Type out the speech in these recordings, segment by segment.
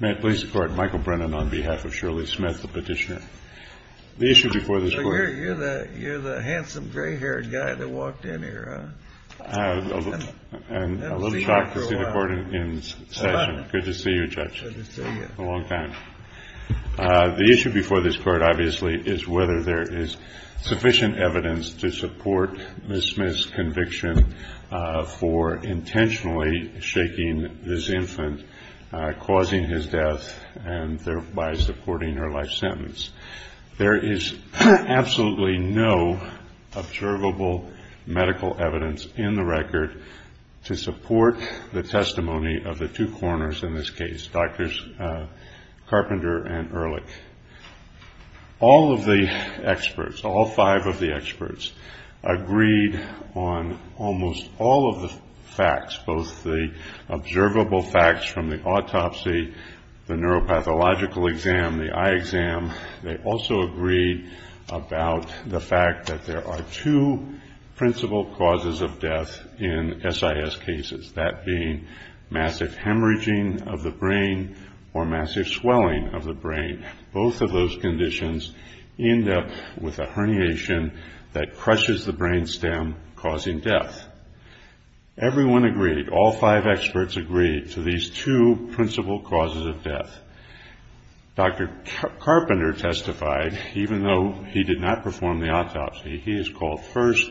May it please the court, Michael Brennan on behalf of Shirley Smith, the petitioner. The issue before this court... You're the handsome, gray-haired guy that walked in here, huh? I'm a little shocked to see the court in session. Good to see you, Judge. Good to see you. A long time. The issue before this court, obviously, is whether there is sufficient evidence to support Ms. Smith's conviction for intentionally shaking this infant, causing his death, and thereby supporting her life sentence. There is absolutely no observable medical evidence in the record to support the testimony of the two coroners in this case, Drs. Carpenter and Ehrlich. All of the experts, all five of the experts, agreed on almost all of the facts, both the observable facts from the autopsy, the neuropathological exam, the eye exam. They also agreed about the fact that there are two principal causes of death in SIS cases, that being massive hemorrhaging of the brain or massive swelling of the brain. Both of those conditions end up with a herniation that crushes the brain stem, causing death. Everyone agreed, all five experts agreed, to these two principal causes of death. Dr. Carpenter testified, even though he did not perform the autopsy. He is called first,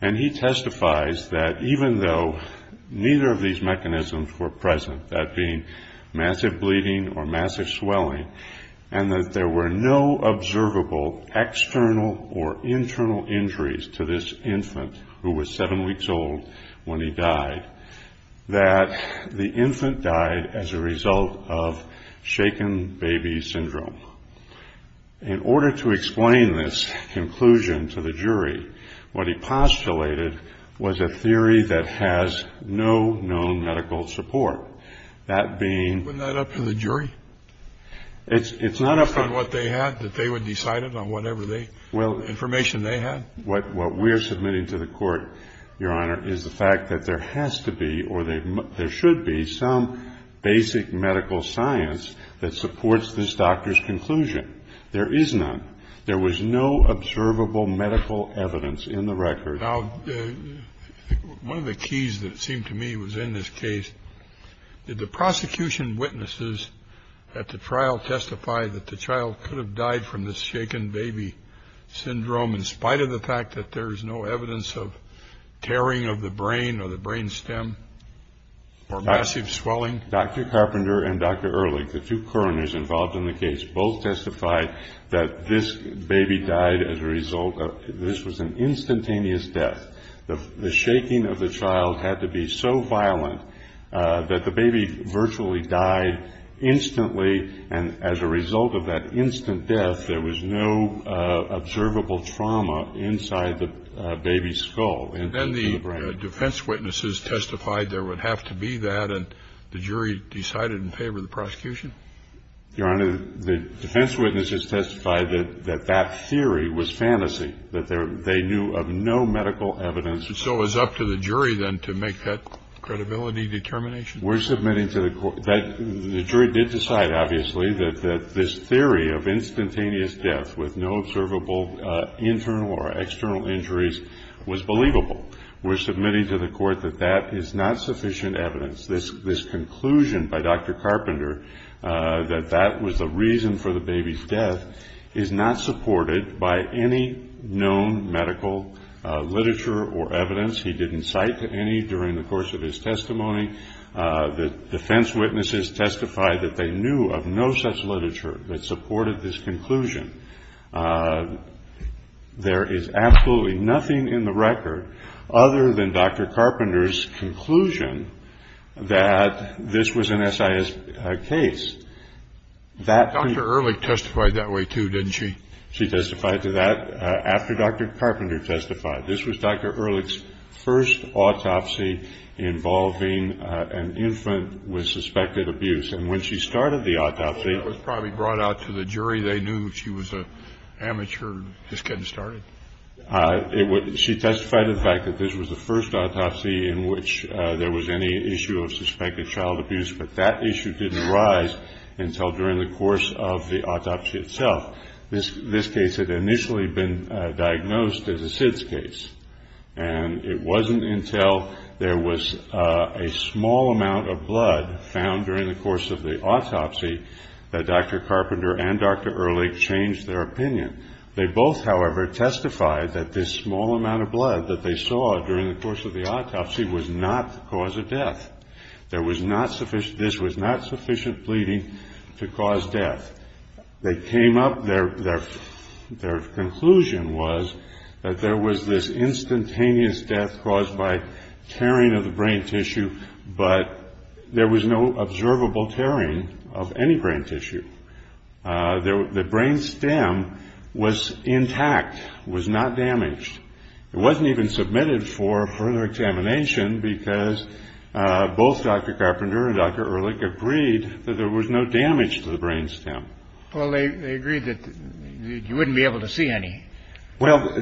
and he testifies that even though neither of these mechanisms were present, that being massive bleeding or massive swelling, and that there were no observable external or internal injuries to this infant who was seven weeks old when he died, that the infant died as a result of shaken baby syndrome. In order to explain this conclusion to the jury, what he postulated was a theory that has no known medical support. That being... Wasn't that up to the jury? It's not up to... Based on what they had, that they would decide it on whatever information they had? What we are submitting to the court, Your Honor, is the fact that there has to be, or there should be, some basic medical science that supports this doctor's conclusion. There is none. There was no observable medical evidence in the record. Now, one of the keys that seemed to me was in this case, did the prosecution witnesses at the trial testify that the child could have died from this shaken baby syndrome, in spite of the fact that there is no evidence of tearing of the brain or the brain stem or massive swelling? Dr. Carpenter and Dr. Ehrlich, the two coroners involved in the case, both testified that this baby died as a result of... This was an instantaneous death. The shaking of the child had to be so violent that the baby virtually died instantly, and as a result of that instant death, there was no observable trauma inside the baby's skull. And then the defense witnesses testified there would have to be that, and the jury decided in favor of the prosecution? Your Honor, the defense witnesses testified that that theory was fantasy, that they knew of no medical evidence. So it was up to the jury, then, to make that credibility determination? We're submitting to the court that the jury did decide, obviously, that this theory of instantaneous death with no observable internal or external injuries was believable. We're submitting to the court that that is not sufficient evidence. This conclusion by Dr. Carpenter, that that was the reason for the baby's death, is not supported by any known medical literature or evidence. He didn't cite any during the course of his testimony. The defense witnesses testified that they knew of no such literature that supported this conclusion. There is absolutely nothing in the record other than Dr. Carpenter's conclusion that this was an SIS case. Dr. Ehrlich testified that way, too, didn't she? She testified to that after Dr. Carpenter testified. This was Dr. Ehrlich's first autopsy involving an infant with suspected abuse. And when she started the autopsy ---- Well, that was probably brought out to the jury. They knew she was an amateur just getting started. She testified to the fact that this was the first autopsy in which there was any issue of suspected child abuse, but that issue didn't arise until during the course of the autopsy itself. This case had initially been diagnosed as a SIDS case, and it wasn't until there was a small amount of blood found during the course of the autopsy that Dr. Carpenter and Dr. Ehrlich changed their opinion. They both, however, testified that this small amount of blood that they saw during the course of the autopsy was not the cause of death. This was not sufficient bleeding to cause death. They came up ---- Their conclusion was that there was this instantaneous death caused by tearing of the brain tissue, but there was no observable tearing of any brain tissue. The brain stem was intact. It was not damaged. It wasn't even submitted for further examination because both Dr. Carpenter and Dr. Ehrlich agreed that there was no damage to the brain stem. Well, they agreed that you wouldn't be able to see any. Well,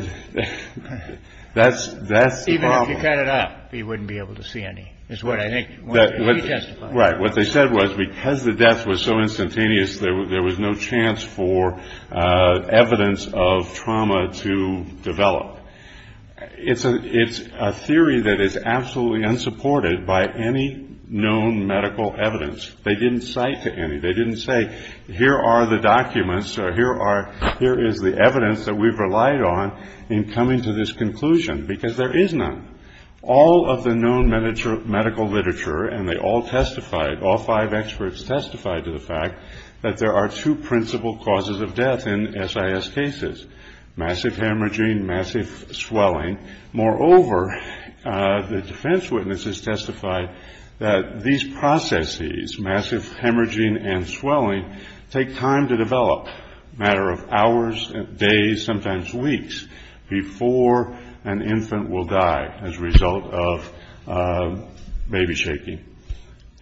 that's the problem. Even if you cut it up, you wouldn't be able to see any is what I think he testified. Right. What they said was because the death was so instantaneous, there was no chance for evidence of trauma to develop. It's a theory that is absolutely unsupported by any known medical evidence. They didn't cite to any. They didn't say here are the documents or here is the evidence that we've relied on in coming to this conclusion because there is none. All of the known medical literature, and they all testified, all five experts testified to the fact that there are two principal causes of death in SIS cases, massive hemorrhaging, massive swelling. Moreover, the defense witnesses testified that these processes, massive hemorrhaging and swelling, take time to develop, a matter of hours, days, sometimes weeks, before an infant will die as a result of baby shaking.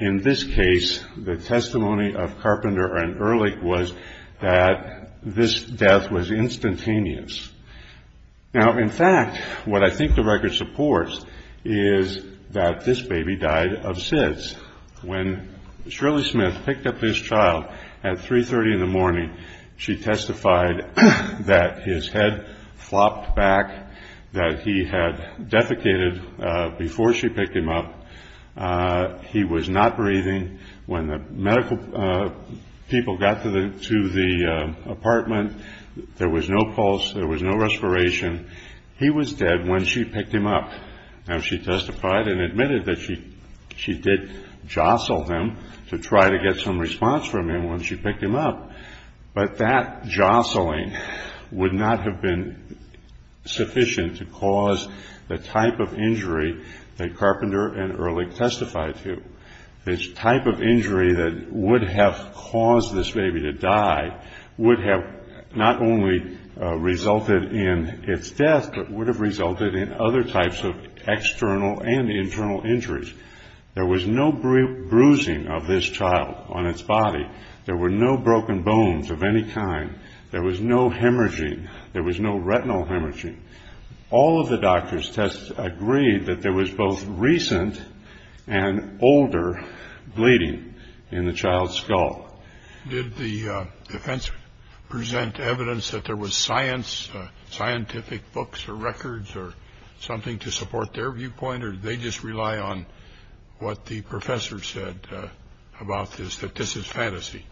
In this case, the testimony of Carpenter and Ehrlich was that this death was instantaneous. Now, in fact, what I think the record supports is that this baby died of SIDS. When Shirley Smith picked up this child at 3.30 in the morning, she testified that his head flopped back, that he had defecated before she picked him up, he was not breathing. When the medical people got to the apartment, there was no pulse, there was no respiration. He was dead when she picked him up. Now, she testified and admitted that she did jostle him to try to get some response from him when she picked him up, but that jostling would not have been sufficient to cause the type of injury that Carpenter and Ehrlich testified to. This type of injury that would have caused this baby to die would have not only resulted in its death, but would have resulted in other types of external and internal injuries. There was no bruising of this child on its body. There were no broken bones of any kind. There was no hemorrhaging. There was no retinal hemorrhaging. All of the doctors' tests agreed that there was both recent and older bleeding in the child's skull. Did the defense present evidence that there was science, scientific books or records, or something to support their viewpoint, or did they just rely on what the professor said about this, that this is fantasy?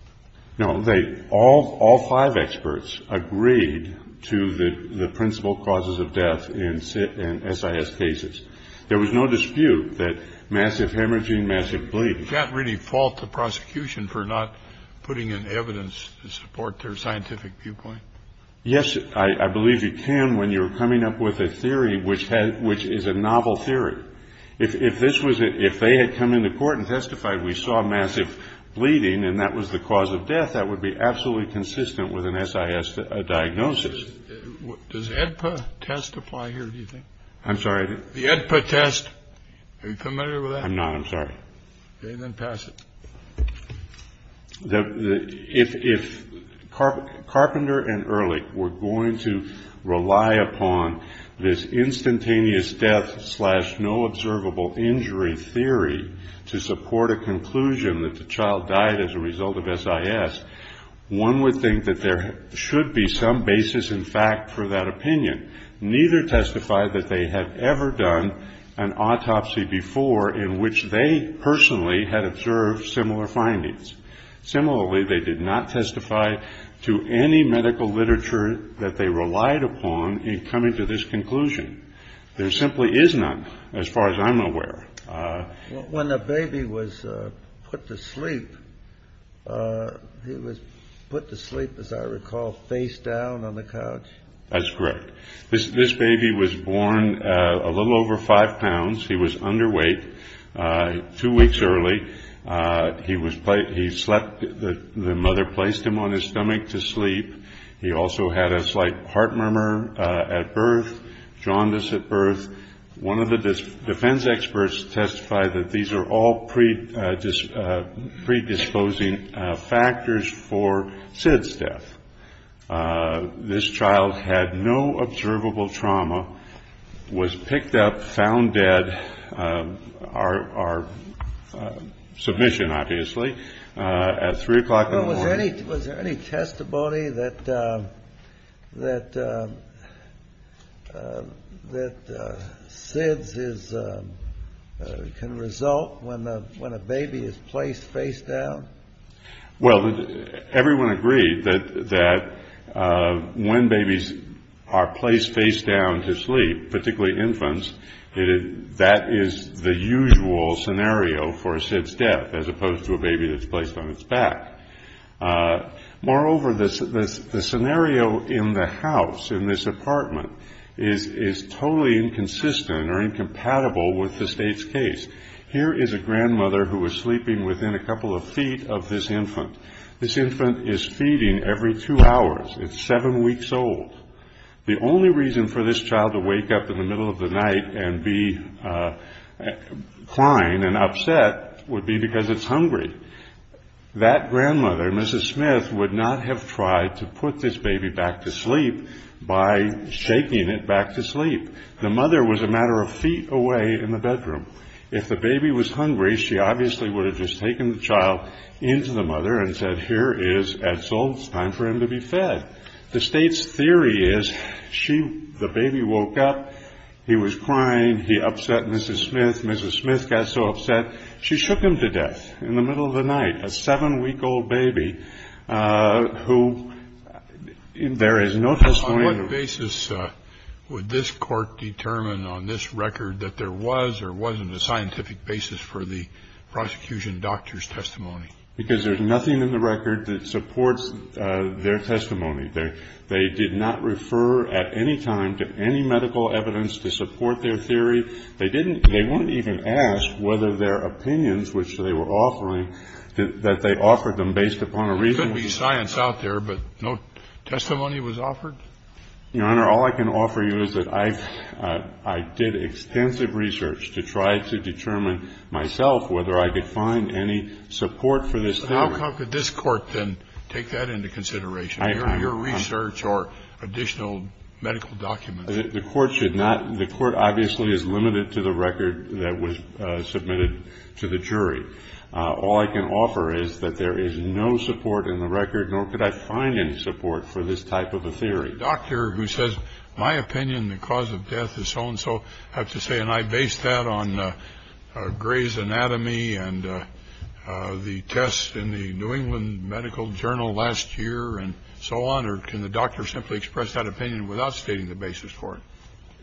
No. All five experts agreed to the principal causes of death in SIS cases. There was no dispute that massive hemorrhaging, massive bleeding. You can't really fault the prosecution for not putting in evidence to support their scientific viewpoint. Yes, I believe you can when you're coming up with a theory which is a novel theory. If they had come into court and testified we saw massive bleeding and that was the cause of death, that would be absolutely consistent with an SIS diagnosis. Does the AEDPA test apply here, do you think? I'm sorry? The AEDPA test. Are you familiar with that? I'm not. I'm sorry. Okay. Then pass it. If Carpenter and Ehrlich were going to rely upon this instantaneous death slash no observable injury theory to support a conclusion that the child died as a result of SIS, one would think that there should be some basis in fact for that opinion. Neither testified that they had ever done an autopsy before in which they personally had observed similar findings. Similarly, they did not testify to any medical literature that they relied upon in coming to this conclusion. There simply is none as far as I'm aware. When the baby was put to sleep, he was put to sleep, as I recall, face down on the couch? That's correct. This baby was born a little over five pounds. He was underweight two weeks early. He slept. The mother placed him on his stomach to sleep. He also had a slight heart murmur at birth, jaundice at birth. One of the defense experts testified that these are all predisposing factors for SID's death. This child had no observable trauma, was picked up, found dead, our submission obviously, at 3 o'clock in the morning. Was there any testimony that SID's can result when a baby is placed face down? Well, everyone agreed that when babies are placed face down to sleep, particularly infants, that is the usual scenario for a SID's death as opposed to a baby that's placed on its back. Moreover, the scenario in the house, in this apartment, is totally inconsistent or incompatible with the State's case. Here is a grandmother who was sleeping within a couple of feet of this infant. This infant is feeding every two hours. It's seven weeks old. The only reason for this child to wake up in the middle of the night and be crying and upset would be because it's hungry. That grandmother, Mrs. Smith, would not have tried to put this baby back to sleep by shaking it back to sleep. The mother was a matter of feet away in the bedroom. If the baby was hungry, she obviously would have just taken the child into the mother and said, Here is Edsel. It's time for him to be fed. The State's theory is the baby woke up. He was crying. He upset Mrs. Smith. Mrs. Smith got so upset, she shook him to death in the middle of the night, a seven-week-old baby who there is no testimony. And what basis would this Court determine on this record that there was or wasn't a scientific basis for the prosecution doctor's testimony? Because there's nothing in the record that supports their testimony. They did not refer at any time to any medical evidence to support their theory. They didn't they wouldn't even ask whether their opinions, which they were offering, that they offered them based upon a reason. There may be science out there, but no testimony was offered? Your Honor, all I can offer you is that I did extensive research to try to determine myself whether I could find any support for this theory. How could this Court then take that into consideration, your research or additional medical documents? The Court should not. The Court obviously is limited to the record that was submitted to the jury. All I can offer is that there is no support in the record, nor could I find any support for this type of a theory. A doctor who says, my opinion, the cause of death is so-and-so, I have to say, and I base that on Gray's Anatomy and the test in the New England Medical Journal last year and so on. Or can the doctor simply express that opinion without stating the basis for it?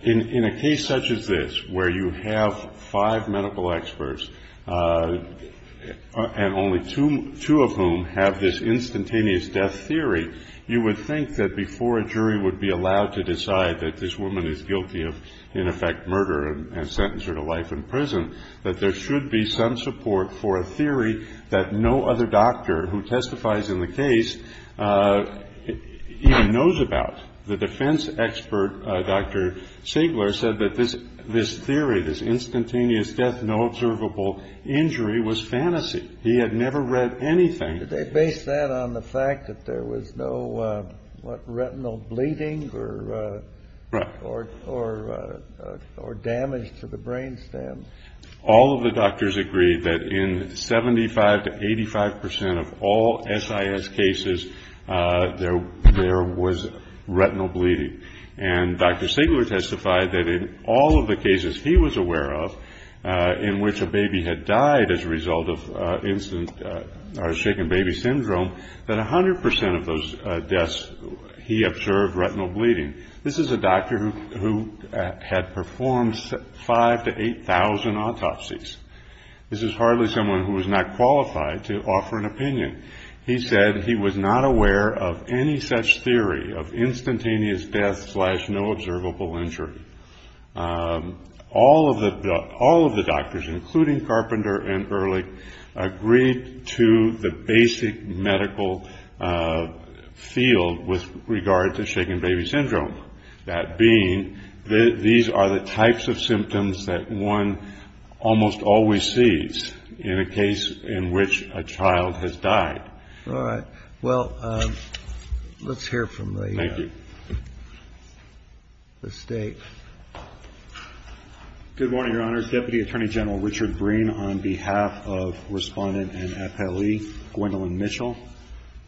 In a case such as this, where you have five medical experts, and only two of whom have this instantaneous death theory, you would think that before a jury would be allowed to decide that this woman is guilty of, in effect, murder and sentence her to life in prison, that there should be some support for a theory that no other doctor who testifies in the case even knows about. The defense expert, Dr. Siegler, said that this theory, this instantaneous death, no observable injury, was fantasy. He had never read anything. Did they base that on the fact that there was no, what, retinal bleeding or damage to the brain stem? All of the doctors agreed that in 75 to 85 percent of all SIS cases, there was retinal bleeding. And Dr. Siegler testified that in all of the cases he was aware of, in which a baby had died as a result of instant or shaken baby syndrome, that 100 percent of those deaths he observed retinal bleeding. This is a doctor who had performed 5,000 to 8,000 autopsies. This is hardly someone who was not qualified to offer an opinion. He said he was not aware of any such theory of instantaneous death slash no observable injury. All of the doctors, including Carpenter and Ehrlich, agreed to the basic medical field with regard to shaken baby syndrome. That being, these are the types of symptoms that one almost always sees in a case in which a child has died. All right. Well, let's hear from the State. Good morning, Your Honors. Deputy Attorney General Richard Breen, on behalf of Respondent and FLE Gwendolyn Mitchell.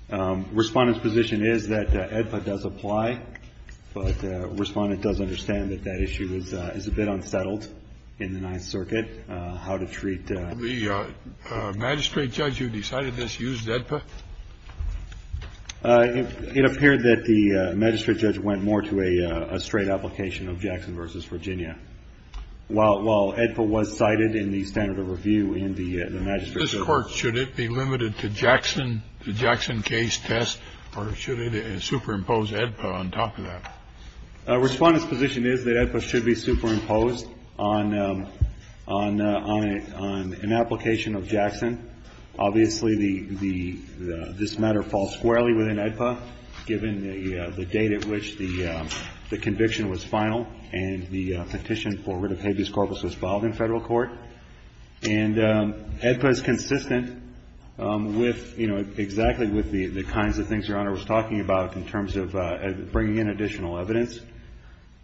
Respondent's position is that AEDPA does apply, but Respondent does understand that that issue is a bit unsettled in the Ninth Circuit, how to treat the magistrate judge who decided this used AEDPA. It appeared that the magistrate judge went more to a straight application of Jackson versus Virginia. Well, well, AEDPA was cited in the standard of review in the magistrate's court. Should it be limited to Jackson to Jackson case test or should it superimpose AEDPA on top of that? Respondent's position is that AEDPA should be superimposed on an application of Jackson. Obviously, this matter falls squarely within AEDPA, given the date at which the conviction was final and the petition for rid of habeas corpus was filed in federal court. And AEDPA is consistent with, you know, exactly with the kinds of things Your Honor was talking about in terms of bringing in additional evidence.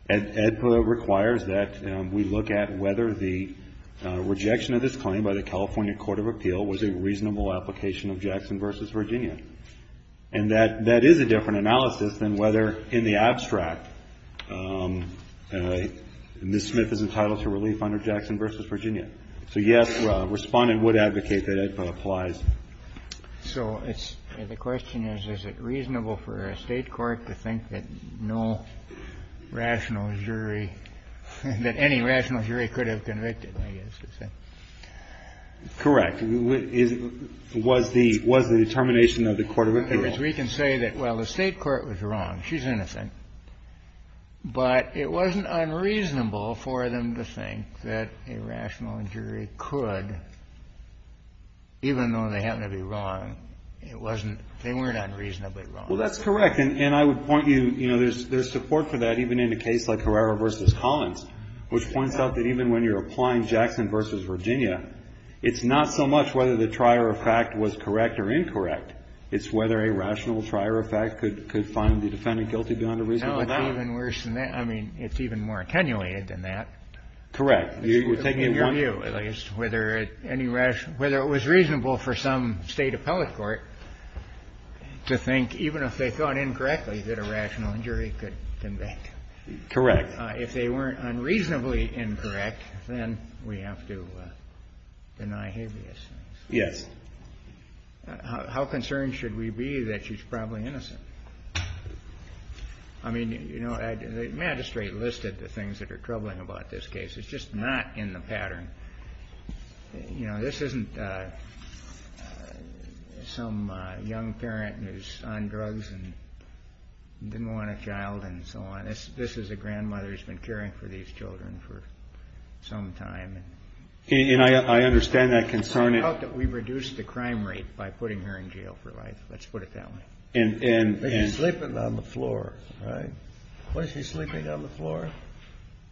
AEDPA requires that we look at whether the rejection of this claim by the California Court of Appeal was a reasonable application of Jackson versus Virginia. And that that is a different analysis than whether in the abstract Ms. Smith is entitled to relief under Jackson versus Virginia. So, yes, Respondent would advocate that AEDPA applies. So it's the question is, is it reasonable for a state court to think that no rational jury that any rational jury could have convicted? Correct. Was the determination of the court of appeal. We can say that, well, the state court was wrong. She's innocent. But it wasn't unreasonable for them to think that a rational jury could, even though they happen to be wrong. It wasn't. They weren't unreasonably wrong. Well, that's correct. And I would point you, you know, there's support for that even in a case like Herrera versus Collins, which points out that even when you're applying Jackson versus Virginia, it's not so much whether the trier of fact was correct or incorrect. It's whether a rational trier of fact could find the defendant guilty beyond a reasonable doubt. No, it's even worse than that. I mean, it's even more attenuated than that. Correct. In your view, at least, whether it was reasonable for some state appellate court to think, even if they thought incorrectly, that a rational jury could convict. Correct. If they weren't unreasonably incorrect, then we have to deny habeas. Yes. How concerned should we be that she's probably innocent? I mean, you know, the magistrate listed the things that are troubling about this case. It's just not in the pattern. You know, this isn't some young parent who's on drugs and didn't want a child and so on. This is a grandmother who's been caring for these children for some time. And I understand that concern. We reduced the crime rate by putting her in jail for life. Let's put it that way. But she's sleeping on the floor, right? Wasn't she sleeping on the floor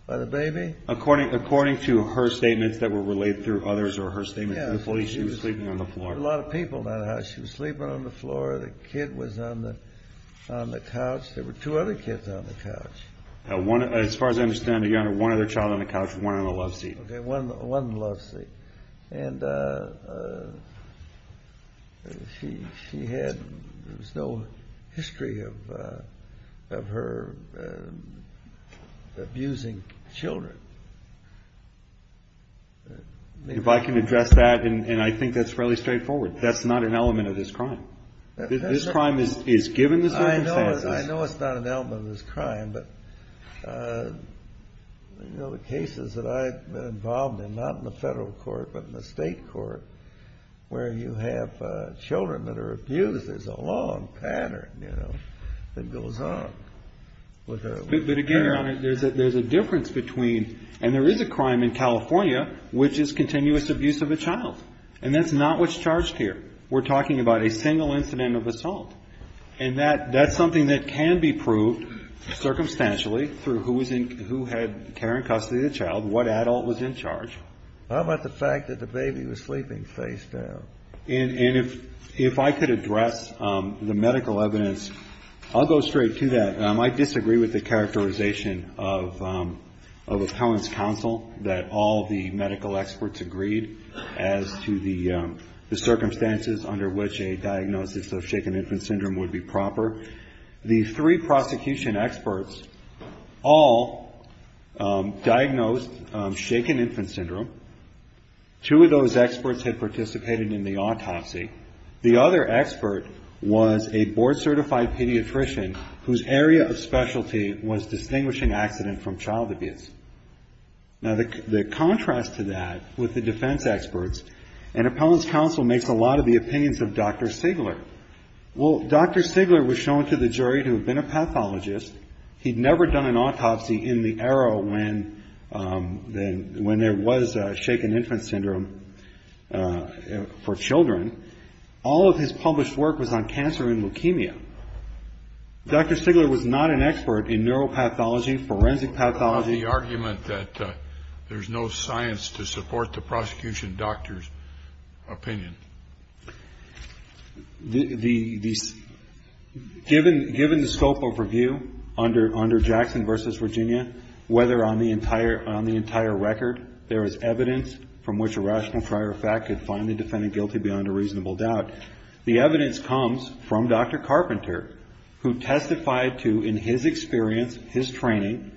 by the baby? According to her statements that were relayed through others or her statements to the police, she was sleeping on the floor. There were a lot of people in that house. She was sleeping on the floor. The kid was on the couch. There were two other kids on the couch. As far as I understand, Your Honor, one other child on the couch and one on the loveseat. Okay. One loveseat. And she had no history of her abusing children. If I can address that, and I think that's fairly straightforward, that's not an element of this crime. This crime is given the circumstances. I know it's not an element of this crime. But, you know, the cases that I've been involved in, not in the federal court but in the state court, where you have children that are abused, there's a long pattern, you know, that goes on. But, again, Your Honor, there's a difference between, and there is a crime in California which is continuous abuse of a child. And that's not what's charged here. We're talking about a single incident of assault. And that's something that can be proved circumstantially through who had care and custody of the child, what adult was in charge. How about the fact that the baby was sleeping face down? And if I could address the medical evidence, I'll go straight to that. I might disagree with the characterization of appellant's counsel that all the medical experts agreed as to the circumstances under which a diagnosis of shaken infant syndrome would be proper. The three prosecution experts all diagnosed shaken infant syndrome. Two of those experts had participated in the autopsy. The other expert was a board-certified pediatrician whose area of specialty was distinguishing accident from child abuse. Now, the contrast to that with the defense experts and appellant's counsel makes a lot of the opinions of Dr. Sigler. Well, Dr. Sigler was shown to the jury to have been a pathologist. He'd never done an autopsy in the era when there was shaken infant syndrome for children. All of his published work was on cancer and leukemia. Dr. Sigler was not an expert in neuropathology, forensic pathology. How about the argument that there's no science to support the prosecution doctor's opinion? Given the scope of review under Jackson v. Virginia, whether on the entire record there is evidence from which a rational prior fact could find the defendant guilty beyond a reasonable doubt, the evidence comes from Dr. Carpenter, who testified to in his experience, his training,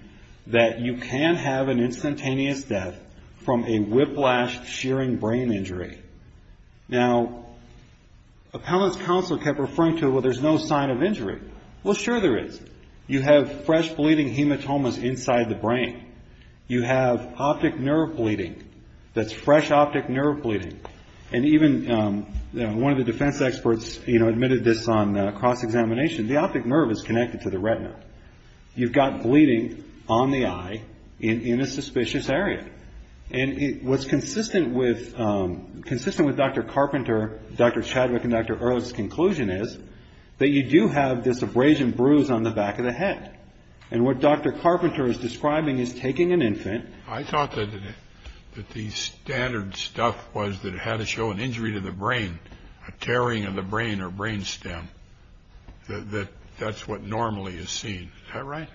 that you can have an instantaneous death from a whiplash shearing brain injury. Now, appellant's counsel kept referring to, well, there's no sign of injury. Well, sure there is. You have fresh bleeding hematomas inside the brain. You have optic nerve bleeding that's fresh optic nerve bleeding. And even one of the defense experts, you know, admitted this on cross-examination. The optic nerve is connected to the retina. You've got bleeding on the eye in a suspicious area. And what's consistent with Dr. Carpenter, Dr. Chadwick, and Dr. Earle's conclusion is that you do have this abrasion bruise on the back of the head. And what Dr. Carpenter is describing is taking an infant. I thought that the standard stuff was that it had to show an injury to the brain, a tearing of the brain or brain stem, that that's what normally is seen. Is that right?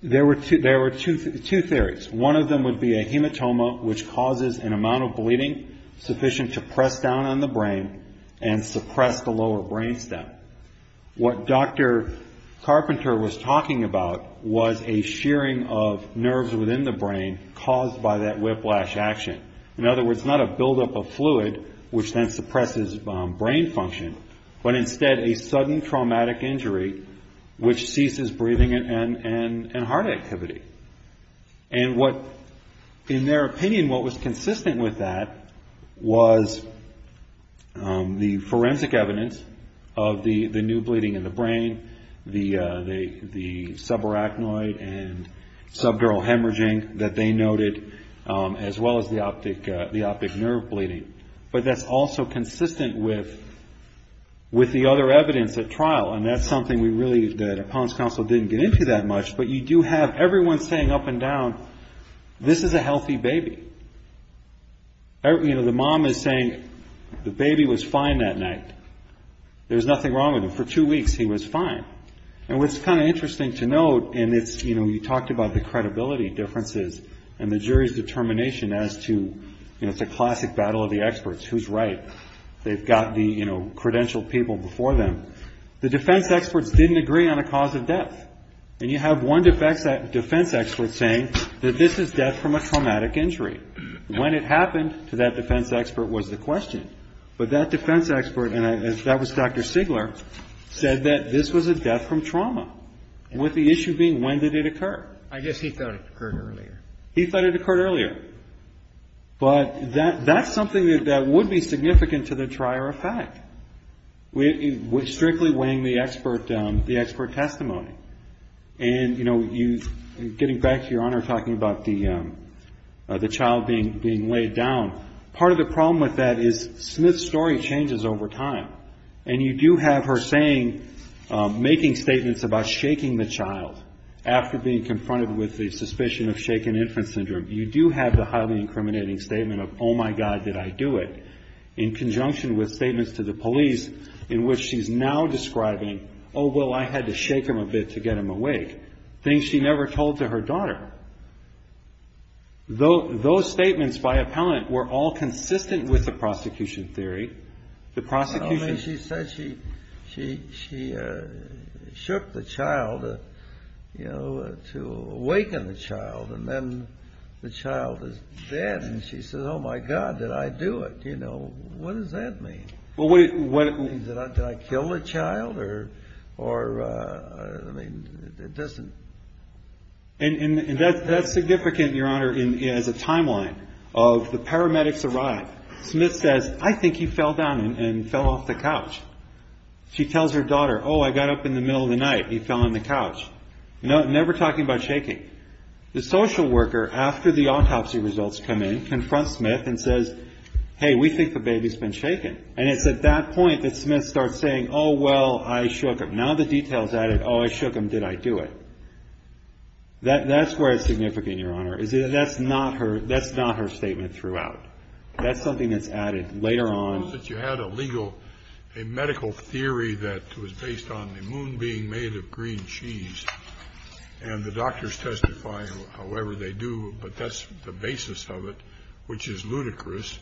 There were two theories. One of them would be a hematoma, which causes an amount of bleeding sufficient to press down on the brain and suppress the lower brain stem. What Dr. Carpenter was talking about was a shearing of nerves within the brain caused by that whiplash action. In other words, not a buildup of fluid, which then suppresses brain function, but instead a sudden traumatic injury which ceases breathing and heart activity. And what, in their opinion, what was consistent with that was the forensic evidence of the new bleeding in the brain, the subarachnoid and subdural hemorrhaging that they noted, as well as the optic nerve bleeding. But that's also consistent with the other evidence at trial. And that's something we really, the appellant's counsel didn't get into that much, but you do have everyone saying up and down, this is a healthy baby. You know, the mom is saying the baby was fine that night. There was nothing wrong with him. For two weeks he was fine. And what's kind of interesting to note, and it's, you know, you talked about the credibility differences and the jury's determination as to, you know, it's a classic battle of the experts, who's right. They've got the, you know, credentialed people before them. The defense experts didn't agree on a cause of death. And you have one defense expert saying that this is death from a traumatic injury. When it happened to that defense expert was the question. But that defense expert, and that was Dr. Sigler, said that this was a death from trauma, with the issue being when did it occur. I guess he thought it occurred earlier. He thought it occurred earlier. But that's something that would be significant to the trier effect, with strictly weighing the expert testimony. And, you know, getting back to your Honor talking about the child being laid down, part of the problem with that is Smith's story changes over time. And you do have her saying, making statements about shaking the child after being confronted with the suspicion of shaken infant syndrome. You do have the highly incriminating statement of, oh, my God, did I do it, in conjunction with statements to the police in which she's now describing, oh, well, I had to shake him a bit to get him awake, things she never told to her daughter. Those statements by appellant were all consistent with the prosecution theory. I mean, she said she shook the child, you know, to awaken the child, and then the child is dead. And she said, oh, my God, did I do it. You know, what does that mean? Did I kill the child? Or, I mean, it doesn't. And that's significant, Your Honor, as a timeline of the paramedics arrive. Smith says, I think he fell down and fell off the couch. She tells her daughter, oh, I got up in the middle of the night, he fell on the couch. Never talking about shaking. The social worker, after the autopsy results come in, confronts Smith and says, hey, we think the baby's been shaken. And it's at that point that Smith starts saying, oh, well, I shook him. Now the detail's added, oh, I shook him, did I do it. That's where it's significant, Your Honor, is that that's not her statement throughout. That's something that's added later on. Suppose that you had a legal, a medical theory that was based on the moon being made of green cheese, and the doctors testify however they do, but that's the basis of it, which is ludicrous.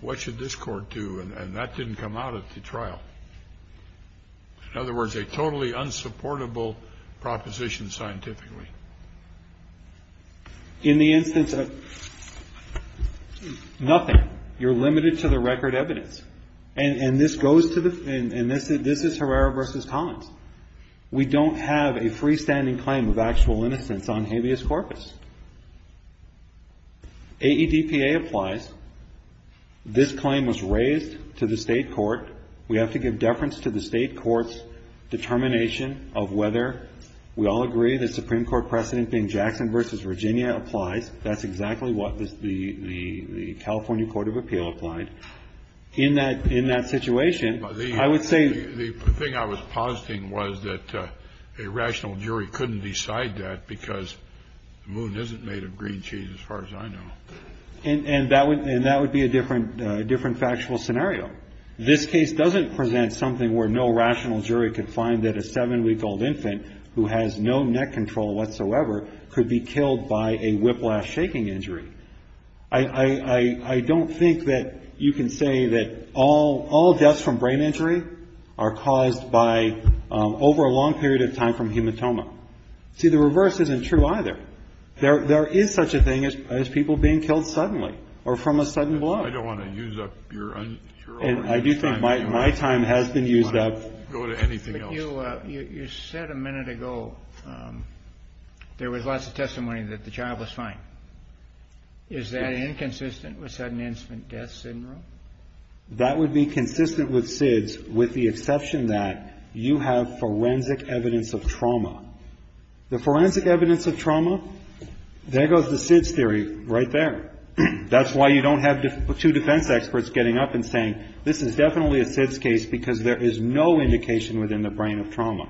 What should this court do? And that didn't come out at the trial. In other words, a totally unsupportable proposition scientifically. In the instance of nothing, you're limited to the record evidence. And this is Herrera v. Collins. We don't have a freestanding claim of actual innocence on habeas corpus. AEDPA applies. This claim was raised to the state court. We have to give deference to the state court's determination of whether we all agree the Supreme Court precedent being Jackson v. Virginia applies. That's exactly what the California Court of Appeal applied. In that situation, I would say the thing I was positing was that a rational jury couldn't decide that because the moon isn't made of green cheese as far as I know. And that would be a different factual scenario. This case doesn't present something where no rational jury could find that a seven-week-old infant who has no neck control whatsoever could be killed by a whiplash shaking injury. I don't think that you can say that all deaths from brain injury are caused by over a long period of time from hematoma. See, the reverse isn't true either. There is such a thing as people being killed suddenly or from a sudden blow. I don't want to use up your time. And I do think my time has been used up. Go to anything else. You said a minute ago there was lots of testimony that the child was fine. Is that inconsistent with sudden infant death syndrome? That would be consistent with SIDS with the exception that you have forensic evidence of trauma. The forensic evidence of trauma, there goes the SIDS theory right there. That's why you don't have two defense experts getting up and saying this is definitely a SIDS case because there is no indication within the brain of trauma.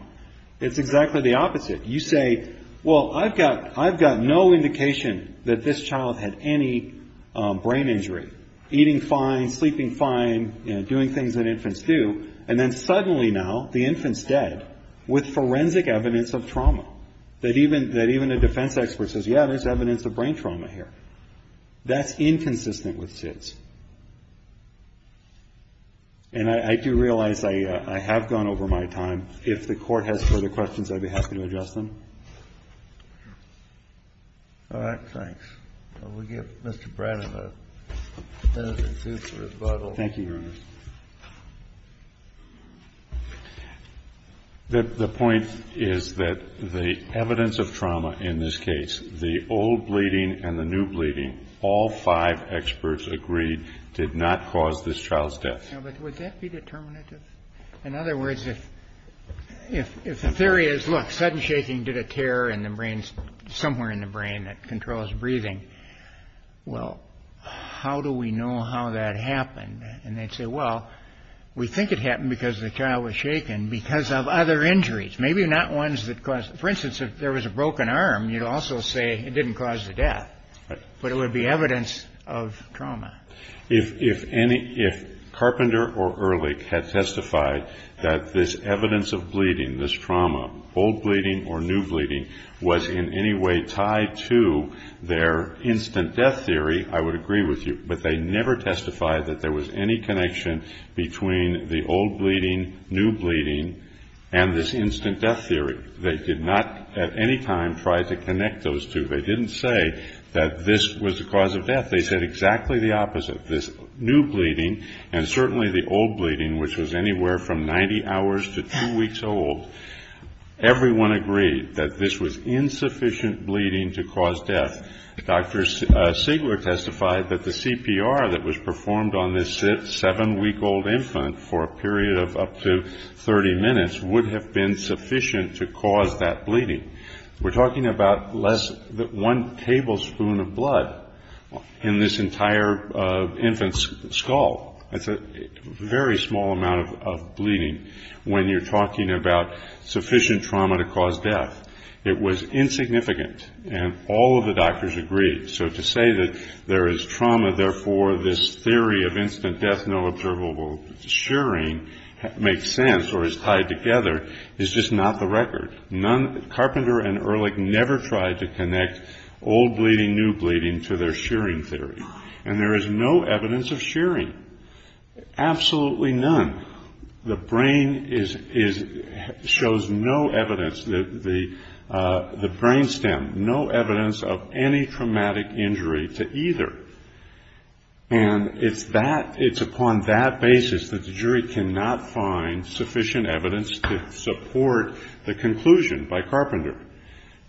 It's exactly the opposite. You say, well, I've got no indication that this child had any brain injury, eating fine, sleeping fine, doing things that infants do. And then suddenly now the infant's dead with forensic evidence of trauma that even a defense expert says, yeah, there's evidence of brain trauma here. That's inconsistent with SIDS. And I do realize I have gone over my time. If the Court has further questions, I'd be happy to address them. All right. Thanks. We'll give Mr. Brennan a pen and paper rebuttal. Thank you, Your Honor. The point is that the evidence of trauma in this case, the old bleeding and the new bleeding, all five experts agreed did not cause this child's death. Now, but would that be determinative? In other words, if the theory is, look, sudden shaking did a tear somewhere in the brain that controls breathing, well, how do we know how that happened? And they'd say, well, we think it happened because the child was shaken because of other injuries, maybe not ones that caused it. For instance, if there was a broken arm, you'd also say it didn't cause the death. But it would be evidence of trauma. If Carpenter or Ehrlich had testified that this evidence of bleeding, this trauma, old bleeding or new bleeding, was in any way tied to their instant death theory, I would agree with you. But they never testified that there was any connection between the old bleeding, new bleeding, and this instant death theory. They did not at any time try to connect those two. They didn't say that this was the cause of death. They said exactly the opposite. This new bleeding and certainly the old bleeding, which was anywhere from 90 hours to two weeks old, everyone agreed that this was insufficient bleeding to cause death. Dr. Sigler testified that the CPR that was performed on this seven-week-old infant for a period of up to 30 minutes would have been sufficient to cause that bleeding. We're talking about less than one tablespoon of blood in this entire infant's skull. That's a very small amount of bleeding when you're talking about sufficient trauma to cause death. It was insignificant, and all of the doctors agreed. So to say that there is trauma, therefore this theory of instant death, no observable shearing, makes sense or is tied together, is just not the record. Carpenter and Ehrlich never tried to connect old bleeding, new bleeding to their shearing theory. And there is no evidence of shearing, absolutely none. The brain shows no evidence, the brain stem, no evidence of any traumatic injury to either. And it's upon that basis that the jury cannot find sufficient evidence to support the conclusion by Carpenter.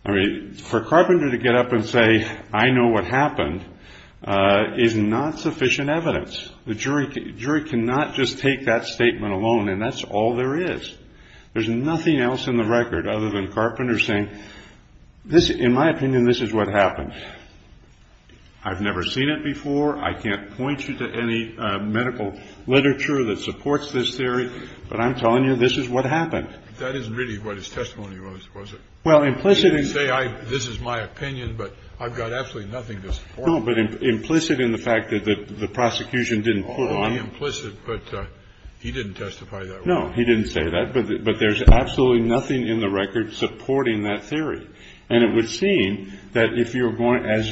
For Carpenter to get up and say, I know what happened, is not sufficient evidence. The jury cannot just take that statement alone, and that's all there is. There's nothing else in the record other than Carpenter saying, in my opinion, this is what happened. I've never seen it before. I can't point you to any medical literature that supports this theory, but I'm telling you, this is what happened. That isn't really what his testimony was, was it? Well, implicitly he said, this is my opinion, but I've got absolutely nothing to support it. No, but implicit in the fact that the prosecution didn't put on. Only implicit, but he didn't testify that way. No, he didn't say that, but there's absolutely nothing in the record supporting that theory. And it would seem that if you're going, as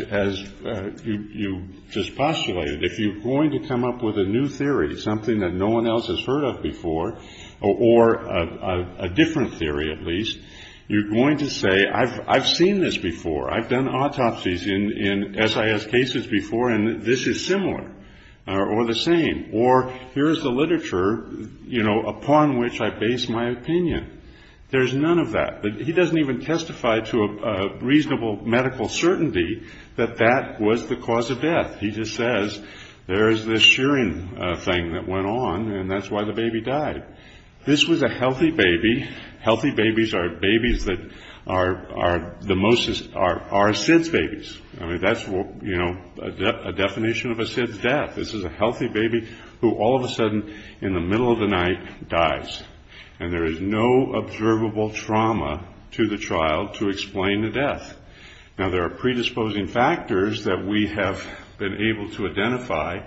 you just postulated, if you're going to come up with a new theory, something that no one else has heard of before, or a different theory at least, you're going to say, I've seen this before. I've done autopsies in SIS cases before, and this is similar or the same. Or here's the literature, you know, upon which I base my opinion. There's none of that. He doesn't even testify to a reasonable medical certainty that that was the cause of death. He just says, there's this shearing thing that went on, and that's why the baby died. This was a healthy baby. Healthy babies are babies that are SIDS babies. I mean, that's a definition of a SIDS death. This is a healthy baby who all of a sudden in the middle of the night dies. And there is no observable trauma to the child to explain the death. Now, there are predisposing factors that we have been able to identify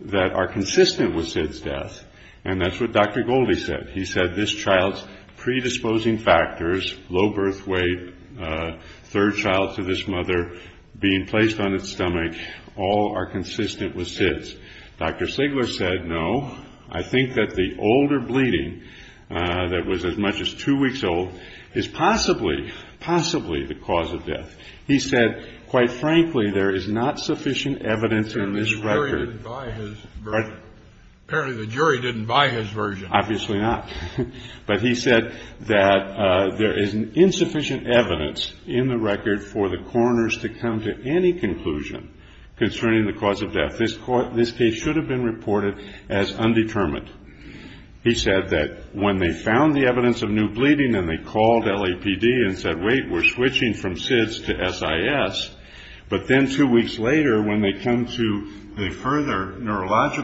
that are consistent with SIDS death. And that's what Dr. Goldie said. He said this child's predisposing factors, low birth weight, third child to this mother, being placed on its stomach, all are consistent with SIDS. Dr. Sigler said, no, I think that the older bleeding that was as much as two weeks old is possibly, possibly the cause of death. He said, quite frankly, there is not sufficient evidence in this record. Apparently the jury didn't buy his version. Obviously not. But he said that there is insufficient evidence in the record for the coroners to come to any conclusion concerning the cause of death. This case should have been reported as undetermined. He said that when they found the evidence of new bleeding and they called LAPD and said, wait, we're switching from SIDS to SIS, but then two weeks later when they come to the further neurological...